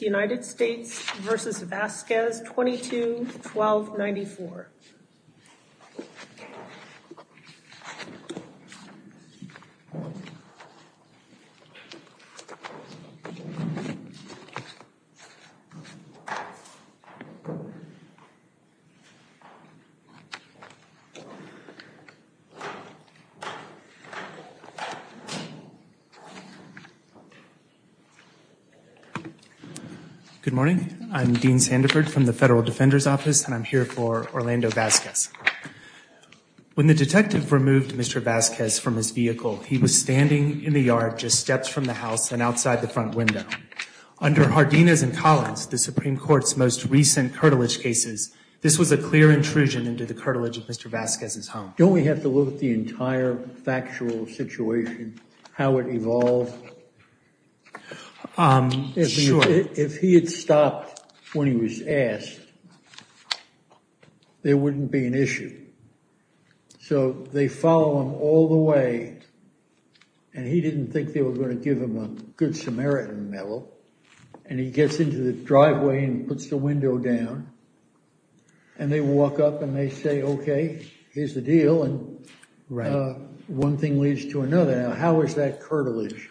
United States v. Vasquez 22-1294. Good morning. I'm Dean Sandiford from the Federal Defender's Office, and I'm here for Orlando Vasquez. When the detective removed Mr. Vasquez from his vehicle, he was standing in the yard, just steps from the house and outside the front window. Under Hardina's and Collins, the Supreme Court's most recent curtilage cases, this was a clear intrusion into the curtilage of Mr. Vasquez's home. Don't we have to look at the entire factual situation, how it evolved? If he had stopped when he was asked, there wouldn't be an issue. So they follow him all the way, and he didn't think they were going to give him a good Samaritan medal. And he gets into the driveway and puts the window down and they walk up and they say, okay, here's the deal. And one thing leads to another. How is that curtilage?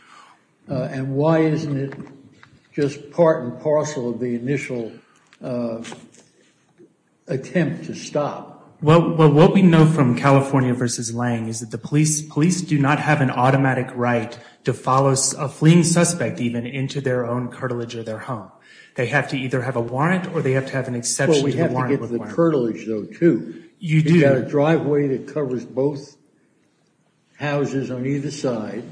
And why isn't it just part and parcel of the initial attempt to stop? Well, what we know from California v. Lange is that the police police do not have an automatic right to follow a fleeing suspect even into their own curtilage of their home. They have to either have a warrant or they have to have an exception to the warrant. The curtilage, though, too, you do have a driveway that covers both houses on either side.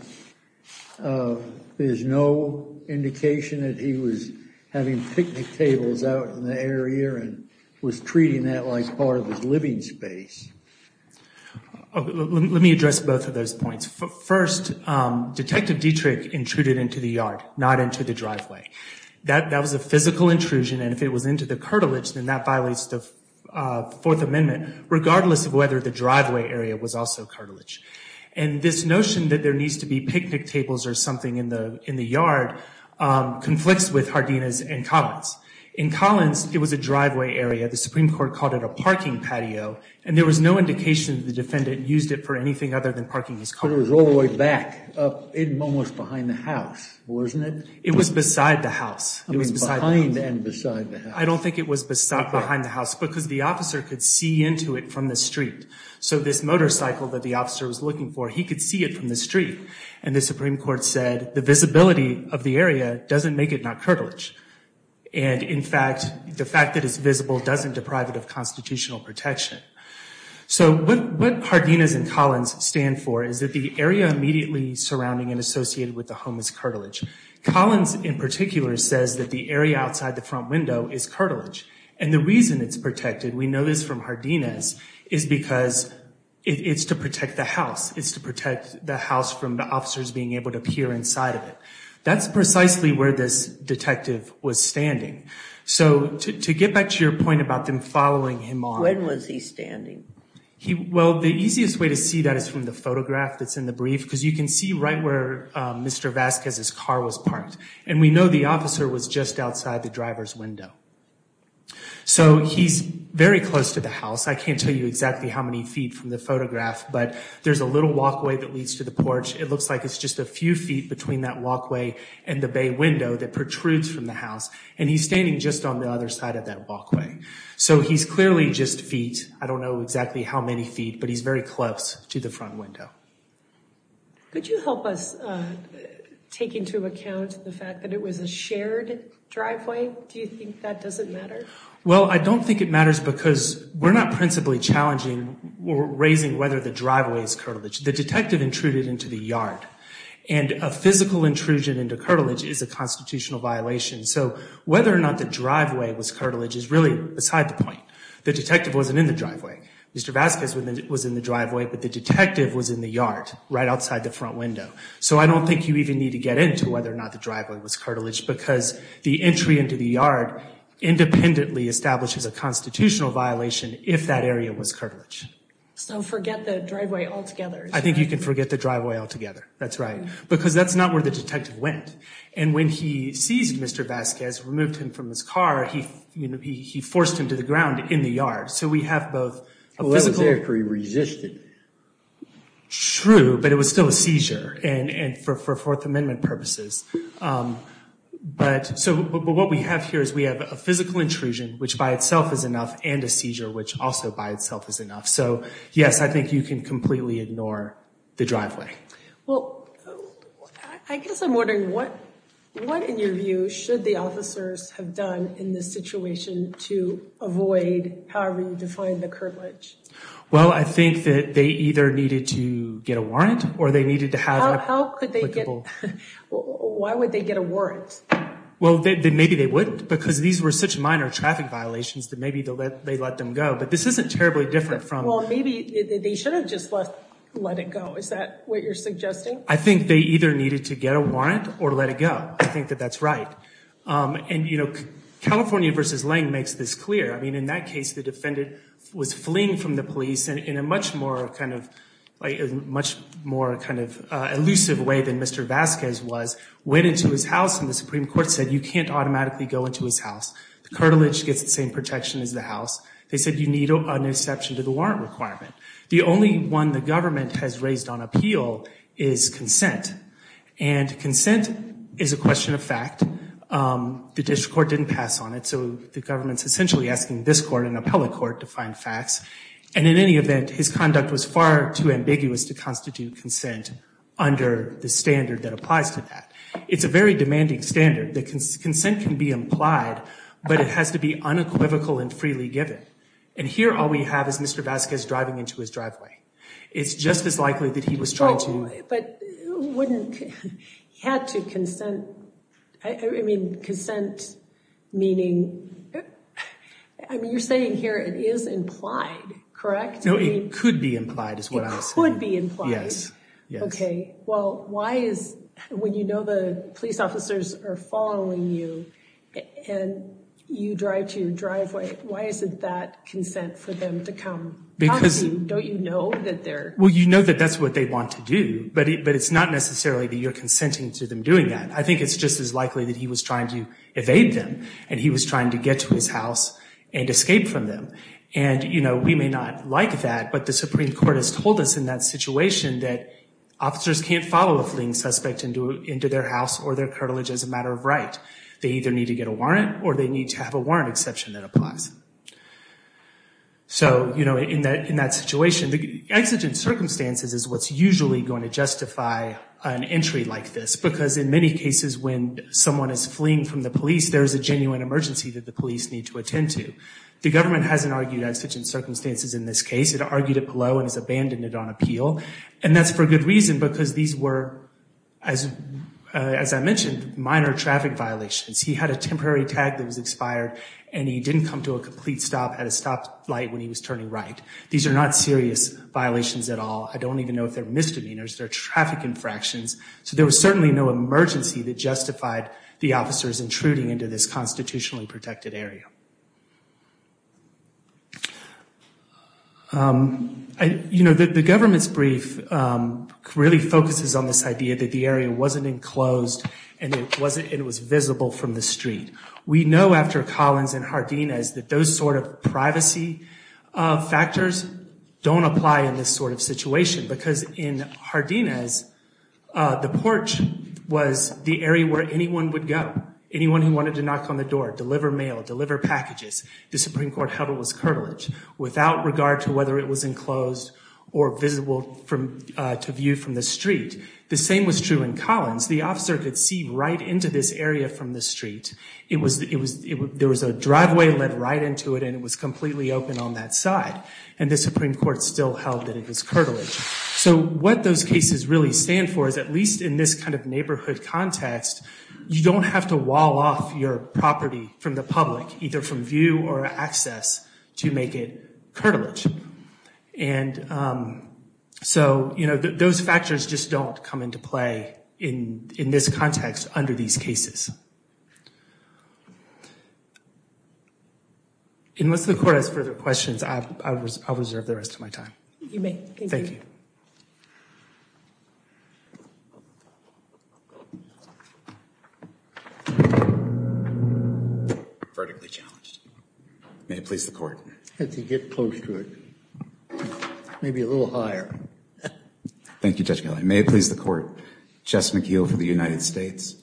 There's no indication that he was having picnic tables out in the area and was treating that like part of his living space. Let me address both of those points. First, Detective Dietrich intruded into the yard, not into the driveway. That was a physical intrusion. And if it was into the curtilage, then that violates the Fourth Amendment, regardless of whether the driveway area was also curtilage. And this notion that there needs to be picnic tables or something in the in the yard conflicts with Hardina's and Collins. In Collins, it was a driveway area. The Supreme Court called it a parking patio and there was no indication the defendant used it for anything other than parking his car. It was all the way back, almost behind the house, wasn't it? It was beside the house. It was behind and beside the house. I don't think it was behind the house because the officer could see into it from the street. So this motorcycle that the officer was looking for, he could see it from the street. And the Supreme Court said the visibility of the area doesn't make it not curtilage. And in fact, the fact that it's visible doesn't deprive it of constitutional protection. So what Hardina's and Collins stand for is that the area immediately surrounding and associated with the home is curtilage. Collins, in particular, says that the area outside the front window is curtilage. And the reason it's protected, we know this from Hardina's, is because it's to protect the house. It's to protect the house from the officers being able to peer inside of it. That's precisely where this detective was standing. So to get back to your point about them following him on. When was he standing? Well, the easiest way to see that is from the photograph that's in the brief because you can see right where Mr. Vasquez's car was parked. And we know the officer was just outside the driver's window. So he's very close to the house. I can't tell you exactly how many feet from the photograph, but there's a little walkway that leads to the porch. It looks like it's just a few feet between that walkway and the bay window that protrudes from the house. And he's standing just on the other side of that walkway. So he's clearly just feet. I don't know exactly how many feet, but he's very close to the front window. Could you help us take into account the fact that it was a shared driveway? Do you think that doesn't matter? Well, I don't think it matters because we're not principally challenging or raising whether the driveway is curtilage. The detective intruded into the yard and a physical intrusion into curtilage is a constitutional violation. So whether or not the driveway was curtilage is really beside the point. The detective wasn't in the driveway. Mr. Vasquez was in the driveway, but the detective was in the yard right outside the front window. So I don't think you even need to get into whether or not the driveway was curtilage because the entry into the yard independently establishes a constitutional violation if that area was curtilage. So forget the driveway altogether. I think you can forget the driveway altogether. That's right, because that's not where the detective went. And when he seized Mr. Vasquez, removed him from his car, he forced him to the ground in the yard. So we have both a physical... True, but it was still a seizure and for Fourth Amendment purposes. But so what we have here is we have a physical intrusion, which by itself is enough, and a seizure, which also by itself is enough. So yes, I think you can completely ignore the driveway. I guess I'm wondering what in your view should the officers have done in this situation to avoid, however you define the curtilage. Well, I think that they either needed to get a warrant or they needed to have... Why would they get a warrant? Well, maybe they wouldn't because these were such minor traffic violations that maybe they let them go. But this isn't terribly different from... Well, maybe they should have just let it go. Is that what you're suggesting? I think they either needed to get a warrant or let it go. I think that that's right. And, you know, California v. Lange makes this clear. I mean, in that case, the defendant was fleeing from the police and in a much more kind of... Much more kind of elusive way than Mr. Vasquez was. Went into his house and the Supreme Court said you can't automatically go into his house. The curtilage gets the same protection as the house. They said you need an exception to the warrant requirement. The only one the government has raised on appeal is consent. And the district court didn't pass on it. So the government's essentially asking this court, an appellate court, to find facts. And in any event, his conduct was far too ambiguous to constitute consent under the standard that applies to that. It's a very demanding standard. The consent can be implied, but it has to be unequivocal and freely given. And here all we have is Mr. Vasquez driving into his driveway. It's just as likely that he was trying to... But he wouldn't... He had to consent. I mean, consent, meaning... I mean, you're saying here it is implied, correct? No, it could be implied is what I was saying. It could be implied. Yes. Yes. Okay. Well, why is... When you know the police officers are following you and you drive to your driveway, why isn't that consent for them to come talk to you? Don't you know that they're... But it's not necessarily that you're consenting to them doing that. I think it's just as likely that he was trying to evade them and he was trying to get to his house and escape from them. And, you know, we may not like that, but the Supreme Court has told us in that situation that officers can't follow a fleeing suspect into their house or their cartilage as a matter of right. They either need to get a warrant or they need to have a warrant exception that applies. So, you know, in that situation, the exigent circumstances is what's usually going to justify an entry like this, because in many cases when someone is fleeing from the police, there is a genuine emergency that the police need to attend to. The government hasn't argued exigent circumstances in this case. It argued it below and has abandoned it on appeal. And that's for good reason, because these were, as I mentioned, minor traffic violations. He had a temporary tag that was expired and he didn't come to a complete stop at a stop light when he was turning right. These are not serious violations at all. I don't even know if they're misdemeanors. They're traffic infractions. So there was certainly no emergency that justified the officers intruding into this constitutionally protected area. You know, the government's brief really focuses on this idea that the area wasn't enclosed and it was visible from the street. We know after Collins and Jardinez that those sort of privacy factors don't apply in this sort of situation, because in Jardinez, the porch was the area where anyone would go. Anyone who wanted to knock on the door, deliver mail, deliver packages. The Supreme Court held it was curtilage without regard to whether it was enclosed or visible to view from the street. The same was true in Collins. The officer could see right into this area from the street. There was a driveway led right into it and it was completely open on that side. And the Supreme Court still held that it was curtilage. So what those cases really stand for is, at least in this kind of neighborhood context, you don't have to wall off your property from the public, either from view or access, to make it curtilage. And so, you know, those factors just don't come into play in this context under these cases. Unless the court has further questions, I'll reserve the rest of my time. You may. Thank you. Vertically challenged. May it please the court. Had to get close to it. Maybe a little higher. Thank you, Judge Kelly. May it please the court. Jess McKeel for the United States.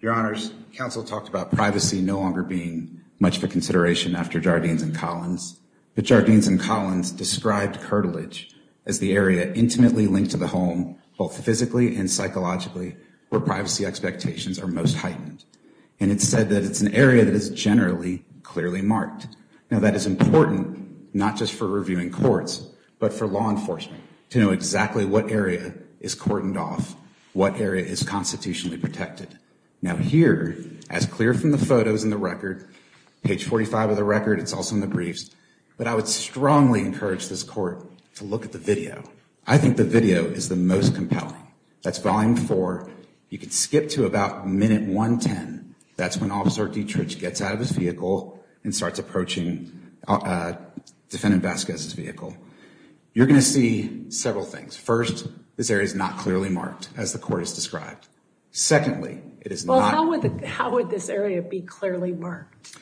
Your Honors, counsel talked about privacy no longer being much of a consideration after Jardinez and Collins. But Jardinez and Collins described curtilage as the area intimately linked to the home, both physically and psychologically, where privacy expectations are most heightened. And it's said that it's an area that is generally clearly marked. Now, that is important, not just for reviewing courts, but for law enforcement to know exactly what area is cordoned off, what area is constitutionally protected. Now, here, as clear from the photos in the record, page 45 of the record, it's also in the briefs, but I would strongly encourage this court to look at the video. I think the video is the most compelling. That's volume four. You could skip to about minute 110. That's when Officer Dietrich gets out of his vehicle and starts approaching Defendant Vasquez's vehicle. You're going to see several things. First, this area is not clearly marked, as the court has described. Secondly, it is not. Well, how would this area be clearly marked?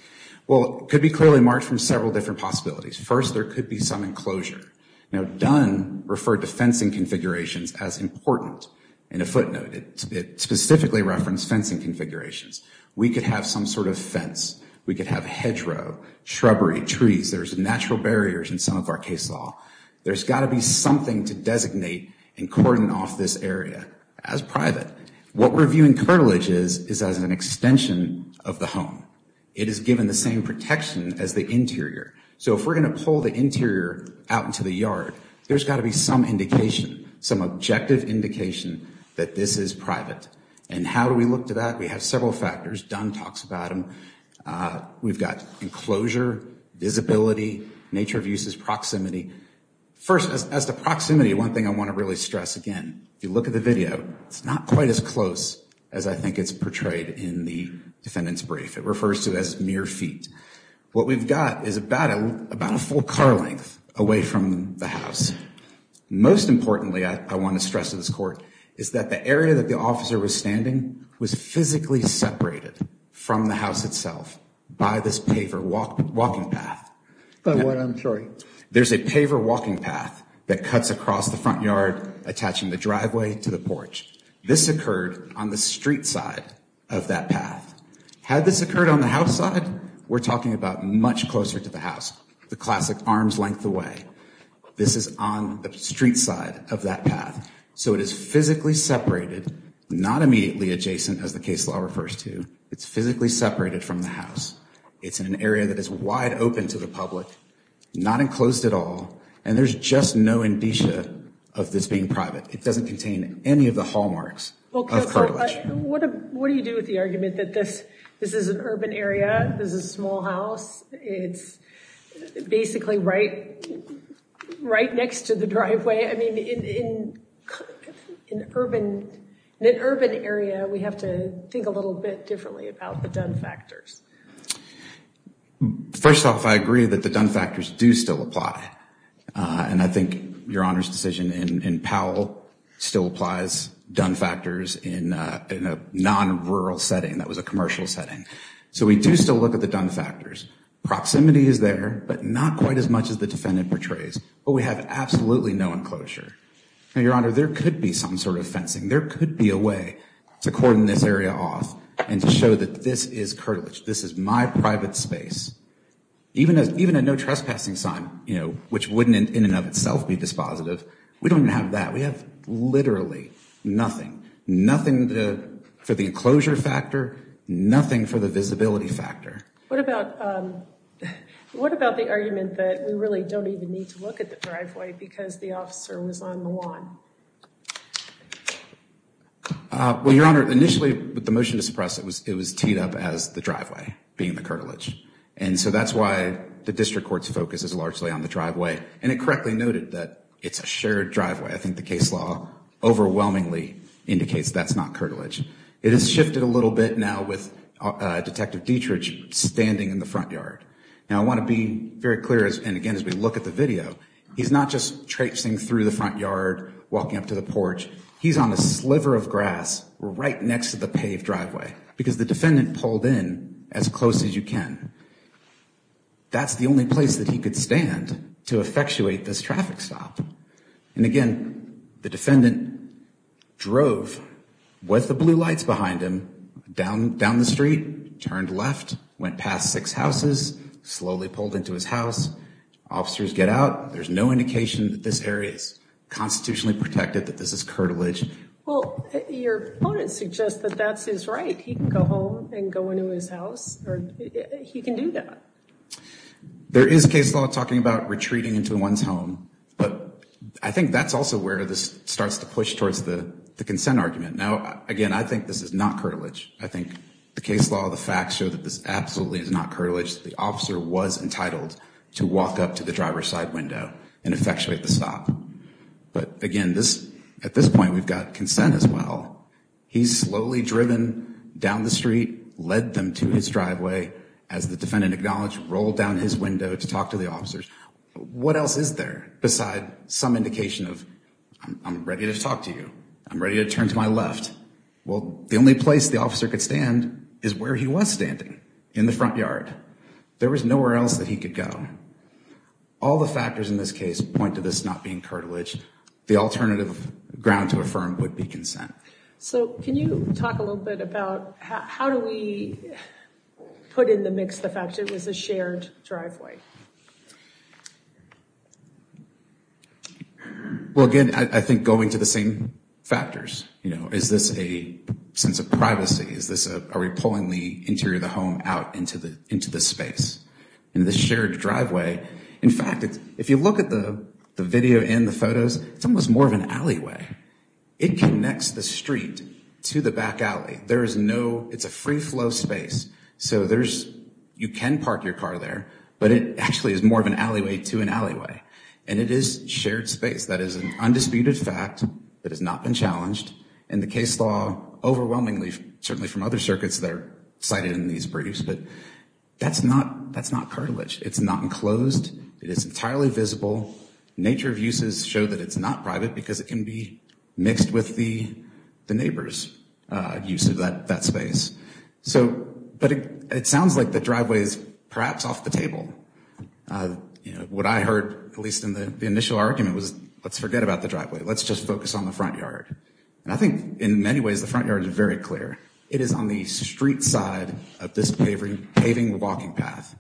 Well, it could be clearly marked from several different possibilities. First, there could be some enclosure. Now, Dunn referred to fencing configurations as important in a footnote. It specifically referenced fencing configurations. We could have some sort of fence. We could have hedgerow, shrubbery, trees. There's natural barriers in some of our case law. There's got to be something to designate and cordon off this area as private. What we're viewing curtilage is, is as an extension of the home. It is given the same protection as the interior. So if we're going to pull the interior out into the yard, there's got to be some indication, some objective indication that this is private. And how do we look to that? We have several factors. Dunn talks about them. We've got enclosure, visibility, nature of uses, proximity. First, as to proximity, one thing I want to really stress again, if you look at the video, it's not quite as close as I think it's portrayed in the defendant's brief. It refers to as mere feet. What we've got is about a full car length away from the house. Most importantly, I want to stress to this court, is that the area that the officer was standing was physically separated from the house itself by this paver walking path. But what I'm sorry, there's a paver walking path that cuts across the front yard, attaching the driveway to the porch. This occurred on the street side of that path. Had this occurred on the house side, we're talking about much closer to the house, the classic arms length away. This is on the street side of that path. So it is physically separated, not immediately adjacent, as the case law refers to. It's physically separated from the house. It's in an area that is wide open to the public, not enclosed at all. And there's just no indicia of this being private. It doesn't contain any of the hallmarks. Well, counsel, what do you do with the argument that this is an urban area, this is a small house, it's basically right next to the driveway? I mean, in an urban area, we have to think a little bit differently about the done factors. First off, I agree that the done factors do still apply. And I think Your Honor's decision in Powell still applies done factors in a non-rural setting that was a commercial setting. So we do still look at the done factors. Proximity is there, but not quite as much as the defendant portrays. But we have absolutely no enclosure. Now, Your Honor, there could be some sort of fencing. There could be a way to cordon this area off and to show that this is curtilage. This is my private space. Even a no trespassing sign, you know, which wouldn't in and of itself be dispositive. We don't have that. We have literally nothing, nothing for the enclosure factor, nothing for the visibility factor. What about the argument that we really don't even need to look at the driveway because the officer was on the lawn? Well, Your Honor, initially with the motion to suppress it, it was teed up as the driveway being the curtilage. And so that's why the district court's focus is largely on the driveway. And it correctly noted that it's a shared driveway. I think the case law overwhelmingly indicates that's not curtilage. It has shifted a little bit now with Detective Dietrich standing in the front yard. Now, I want to be very clear. And again, as we look at the video, he's not just traipsing through the front yard, walking up to the porch. He's on a sliver of grass right next to the paved driveway because the defendant pulled in as close as you can. That's the only place that he could stand to effectuate this traffic stop. And again, the defendant drove with the blue lights behind him down the street, turned left, went past six houses, slowly pulled into his house. Officers get out. There's no indication that this area is constitutionally protected, that this is curtilage. Well, your opponent suggests that that's his right. He can go home and go into his house or he can do that. There is a case law talking about retreating into one's home. But I think that's also where this starts to push towards the consent argument. Now, again, I think this is not curtilage. I think the case law, the facts show that this absolutely is not curtilage. The officer was entitled to walk up to the driver's side window and effectuate the stop. But again, at this point, we've got consent as well. He's slowly driven down the street, led them to his driveway as the defendant acknowledged, rolled down his window to talk to the officers. What else is there besides some indication of I'm ready to talk to you? I'm ready to turn to my left. Well, the only place the officer could stand is where he was standing in the front yard. There was nowhere else that he could go. All the factors in this case point to this not being curtilage. The alternative ground to affirm would be consent. So can you talk a little bit about how do we put in the mix the fact it was a shared driveway? Well, again, I think going to the same factors, you know, is this a sense of privacy? Is this are we pulling the interior of the home out into the into the space in the shared driveway? In fact, if you look at the video and the photos, it's almost more of an alleyway. It connects the street to the back alley. There is no it's a free flow space. So there's you can park your car there. But it actually is more of an alleyway to an alleyway. And it is shared space. That is an undisputed fact that has not been challenged. And the case law overwhelmingly, certainly from other circuits that are cited in these briefs. But that's not that's not cartilage. It's not enclosed. It is entirely visible. Nature of uses show that it's not private because it can be mixed with the the neighbor's use of that space. So but it sounds like the driveway is perhaps off the table. What I heard, at least in the initial argument, was let's forget about the driveway. Let's just focus on the front yard. And I think in many ways, the front yard is very clear. It is on the street side of this paving walking path.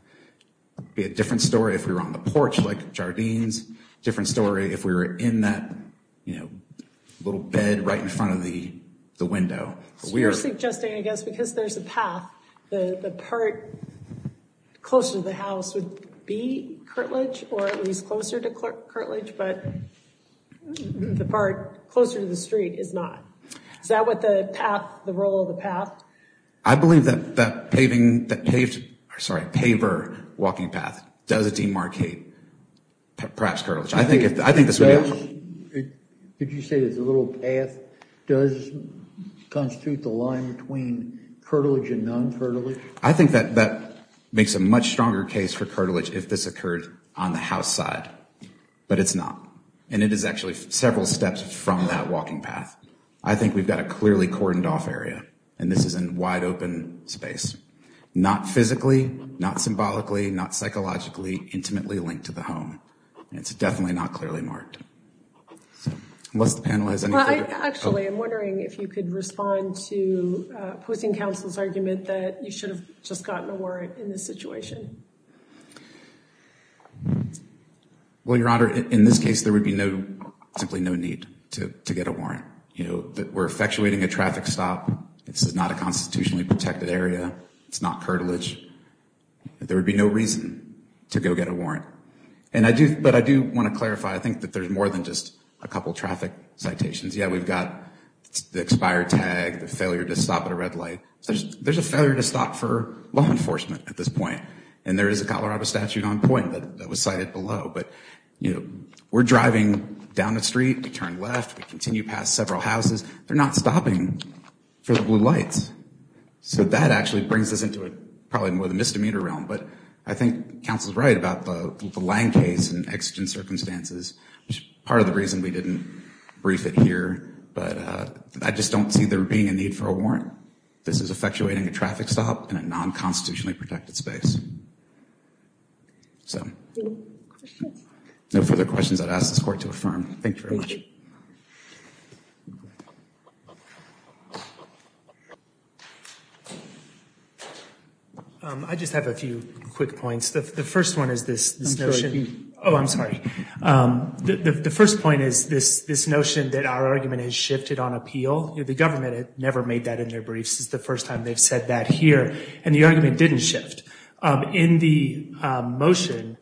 Be a different story if we were on the porch, like Jardines. Different story if we were in that, you know, little bed right in front of the window. We are suggesting, I guess, because there's a path, the part closer to the house would be cartilage or at least closer to cartilage. But the part closer to the street is not. Is that what the path, the role of the path? I believe that that paving, that paved, sorry, paver walking path does demarcate perhaps cartilage. I think if I think this way, could you say there's a little path does constitute the line between cartilage and non-cartilage? I think that that makes a much stronger case for cartilage if this occurred on the house side. But it's not. And it is actually several steps from that walking path. I think we've got a clearly cordoned off area. And this is a wide open space. Not physically, not symbolically, not psychologically, intimately linked to the home. It's definitely not clearly marked. Unless the panel has anything. Actually, I'm wondering if you could respond to opposing counsel's argument that you should have just gotten a warrant in this situation. Well, Your Honor, in this case, there would be no, simply no need to get a warrant. You know, we're effectuating a traffic stop. This is not a constitutionally protected area. It's not cartilage. There would be no reason to go get a warrant. And I do, but I do want to clarify. I think that there's more than just a couple of traffic citations. Yeah, we've got the expired tag, the failure to stop at a red light. There's a failure to stop for law enforcement at this point. And there is a Colorado statute on point that was cited below. But, you know, we're driving down the street, we turn left, we continue past several houses. They're not stopping for the blue lights. So that actually brings us into probably more of the misdemeanor realm. But I think counsel's right about the land case and exigent circumstances, which is part of the reason we didn't brief it here. But I just don't see there being a need for a warrant. This is effectuating a traffic stop in a non-constitutionally protected space. So no further questions, I'd ask this court to affirm. Thank you very much. I just have a few quick points. The first one is this notion. Oh, I'm sorry. The first point is this notion that our argument has shifted on appeal. The government had never made that in their briefs. It's the first time they've said that here. And the argument didn't shift. In the motion,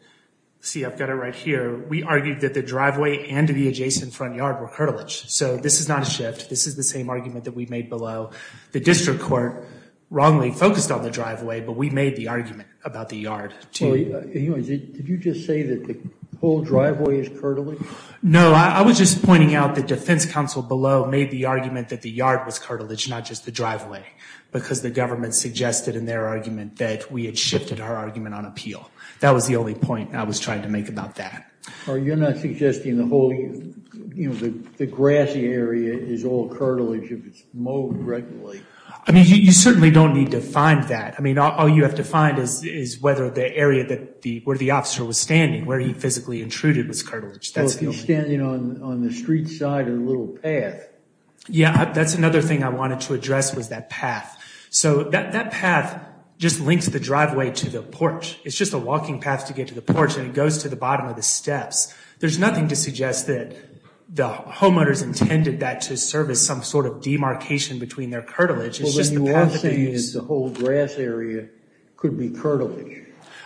see, I've got it right here. We argued that the driveway and the adjacent front yard were curtilage. So this is not a shift. This is the same argument that we made below. The district court wrongly focused on the driveway, but we made the argument about the yard. Did you just say that the whole driveway is curtilage? No, I was just pointing out that defense counsel below made the argument that the yard was curtilage, not just the driveway, because the government suggested in their argument that we had shifted our argument on appeal. That was the only point I was trying to make about that. Or you're not suggesting the whole, you know, the grassy area is all curtilage if it's mowed regularly. I mean, you certainly don't need to find that. I mean, all you have to find is whether the area where the officer was standing, where he physically intruded, was curtilage. So if he's standing on the street side of the little path. Yeah, that's another thing I wanted to address was that path. So that path just links the driveway to the porch. It's just a walking path to get to the porch and it goes to the bottom of the steps. There's nothing to suggest that the homeowners intended that to serve as some sort of demarcation between their curtilage. It's just the path that they used. The whole grass area could be curtilage.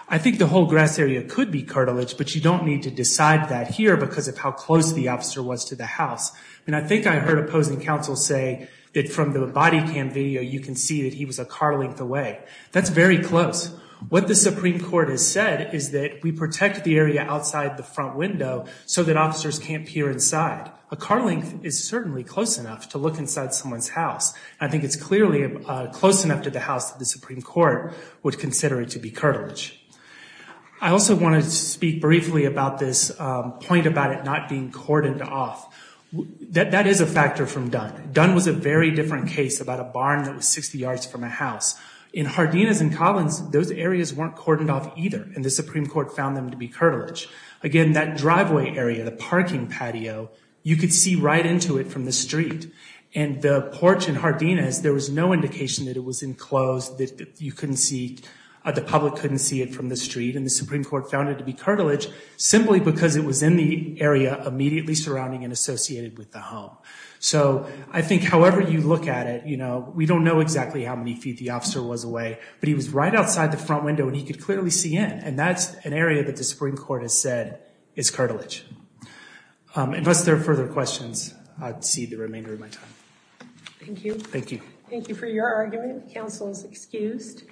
I think the whole grass area could be curtilage, but you don't need to decide that here because of how close the officer was to the house. And I think I heard opposing counsel say that from the body cam video, you can see that he was a car length away. That's very close. What the Supreme Court has said is that we protect the area outside the front window so that officers can't peer inside. A car length is certainly close enough to look inside someone's house. I think it's clearly close enough to the house that the Supreme Court would consider it to be curtilage. I also wanted to speak briefly about this point about it not being cordoned off. That is a factor from Dunn. Dunn was a very different case about a barn that was 60 yards from a house. In Hardinas and Collins, those areas weren't cordoned off either, and the Supreme Court found them to be curtilage. Again, that driveway area, the parking patio, you could see right into it from the street. And the porch in Hardinas, there was no indication that it was enclosed, that you couldn't see, the public couldn't see it from the street. And the Supreme Court found it to be curtilage simply because it was in the area immediately surrounding and associated with the home. So I think however you look at it, you know, we don't know exactly how many feet the officer was away, but he was right outside the front window and he could clearly see in. And that's an area that the Supreme Court has said is curtilage. Unless there are further questions, I'd cede the remainder of my time. Thank you. Thank you. Thank you for your argument. Counsel is excused.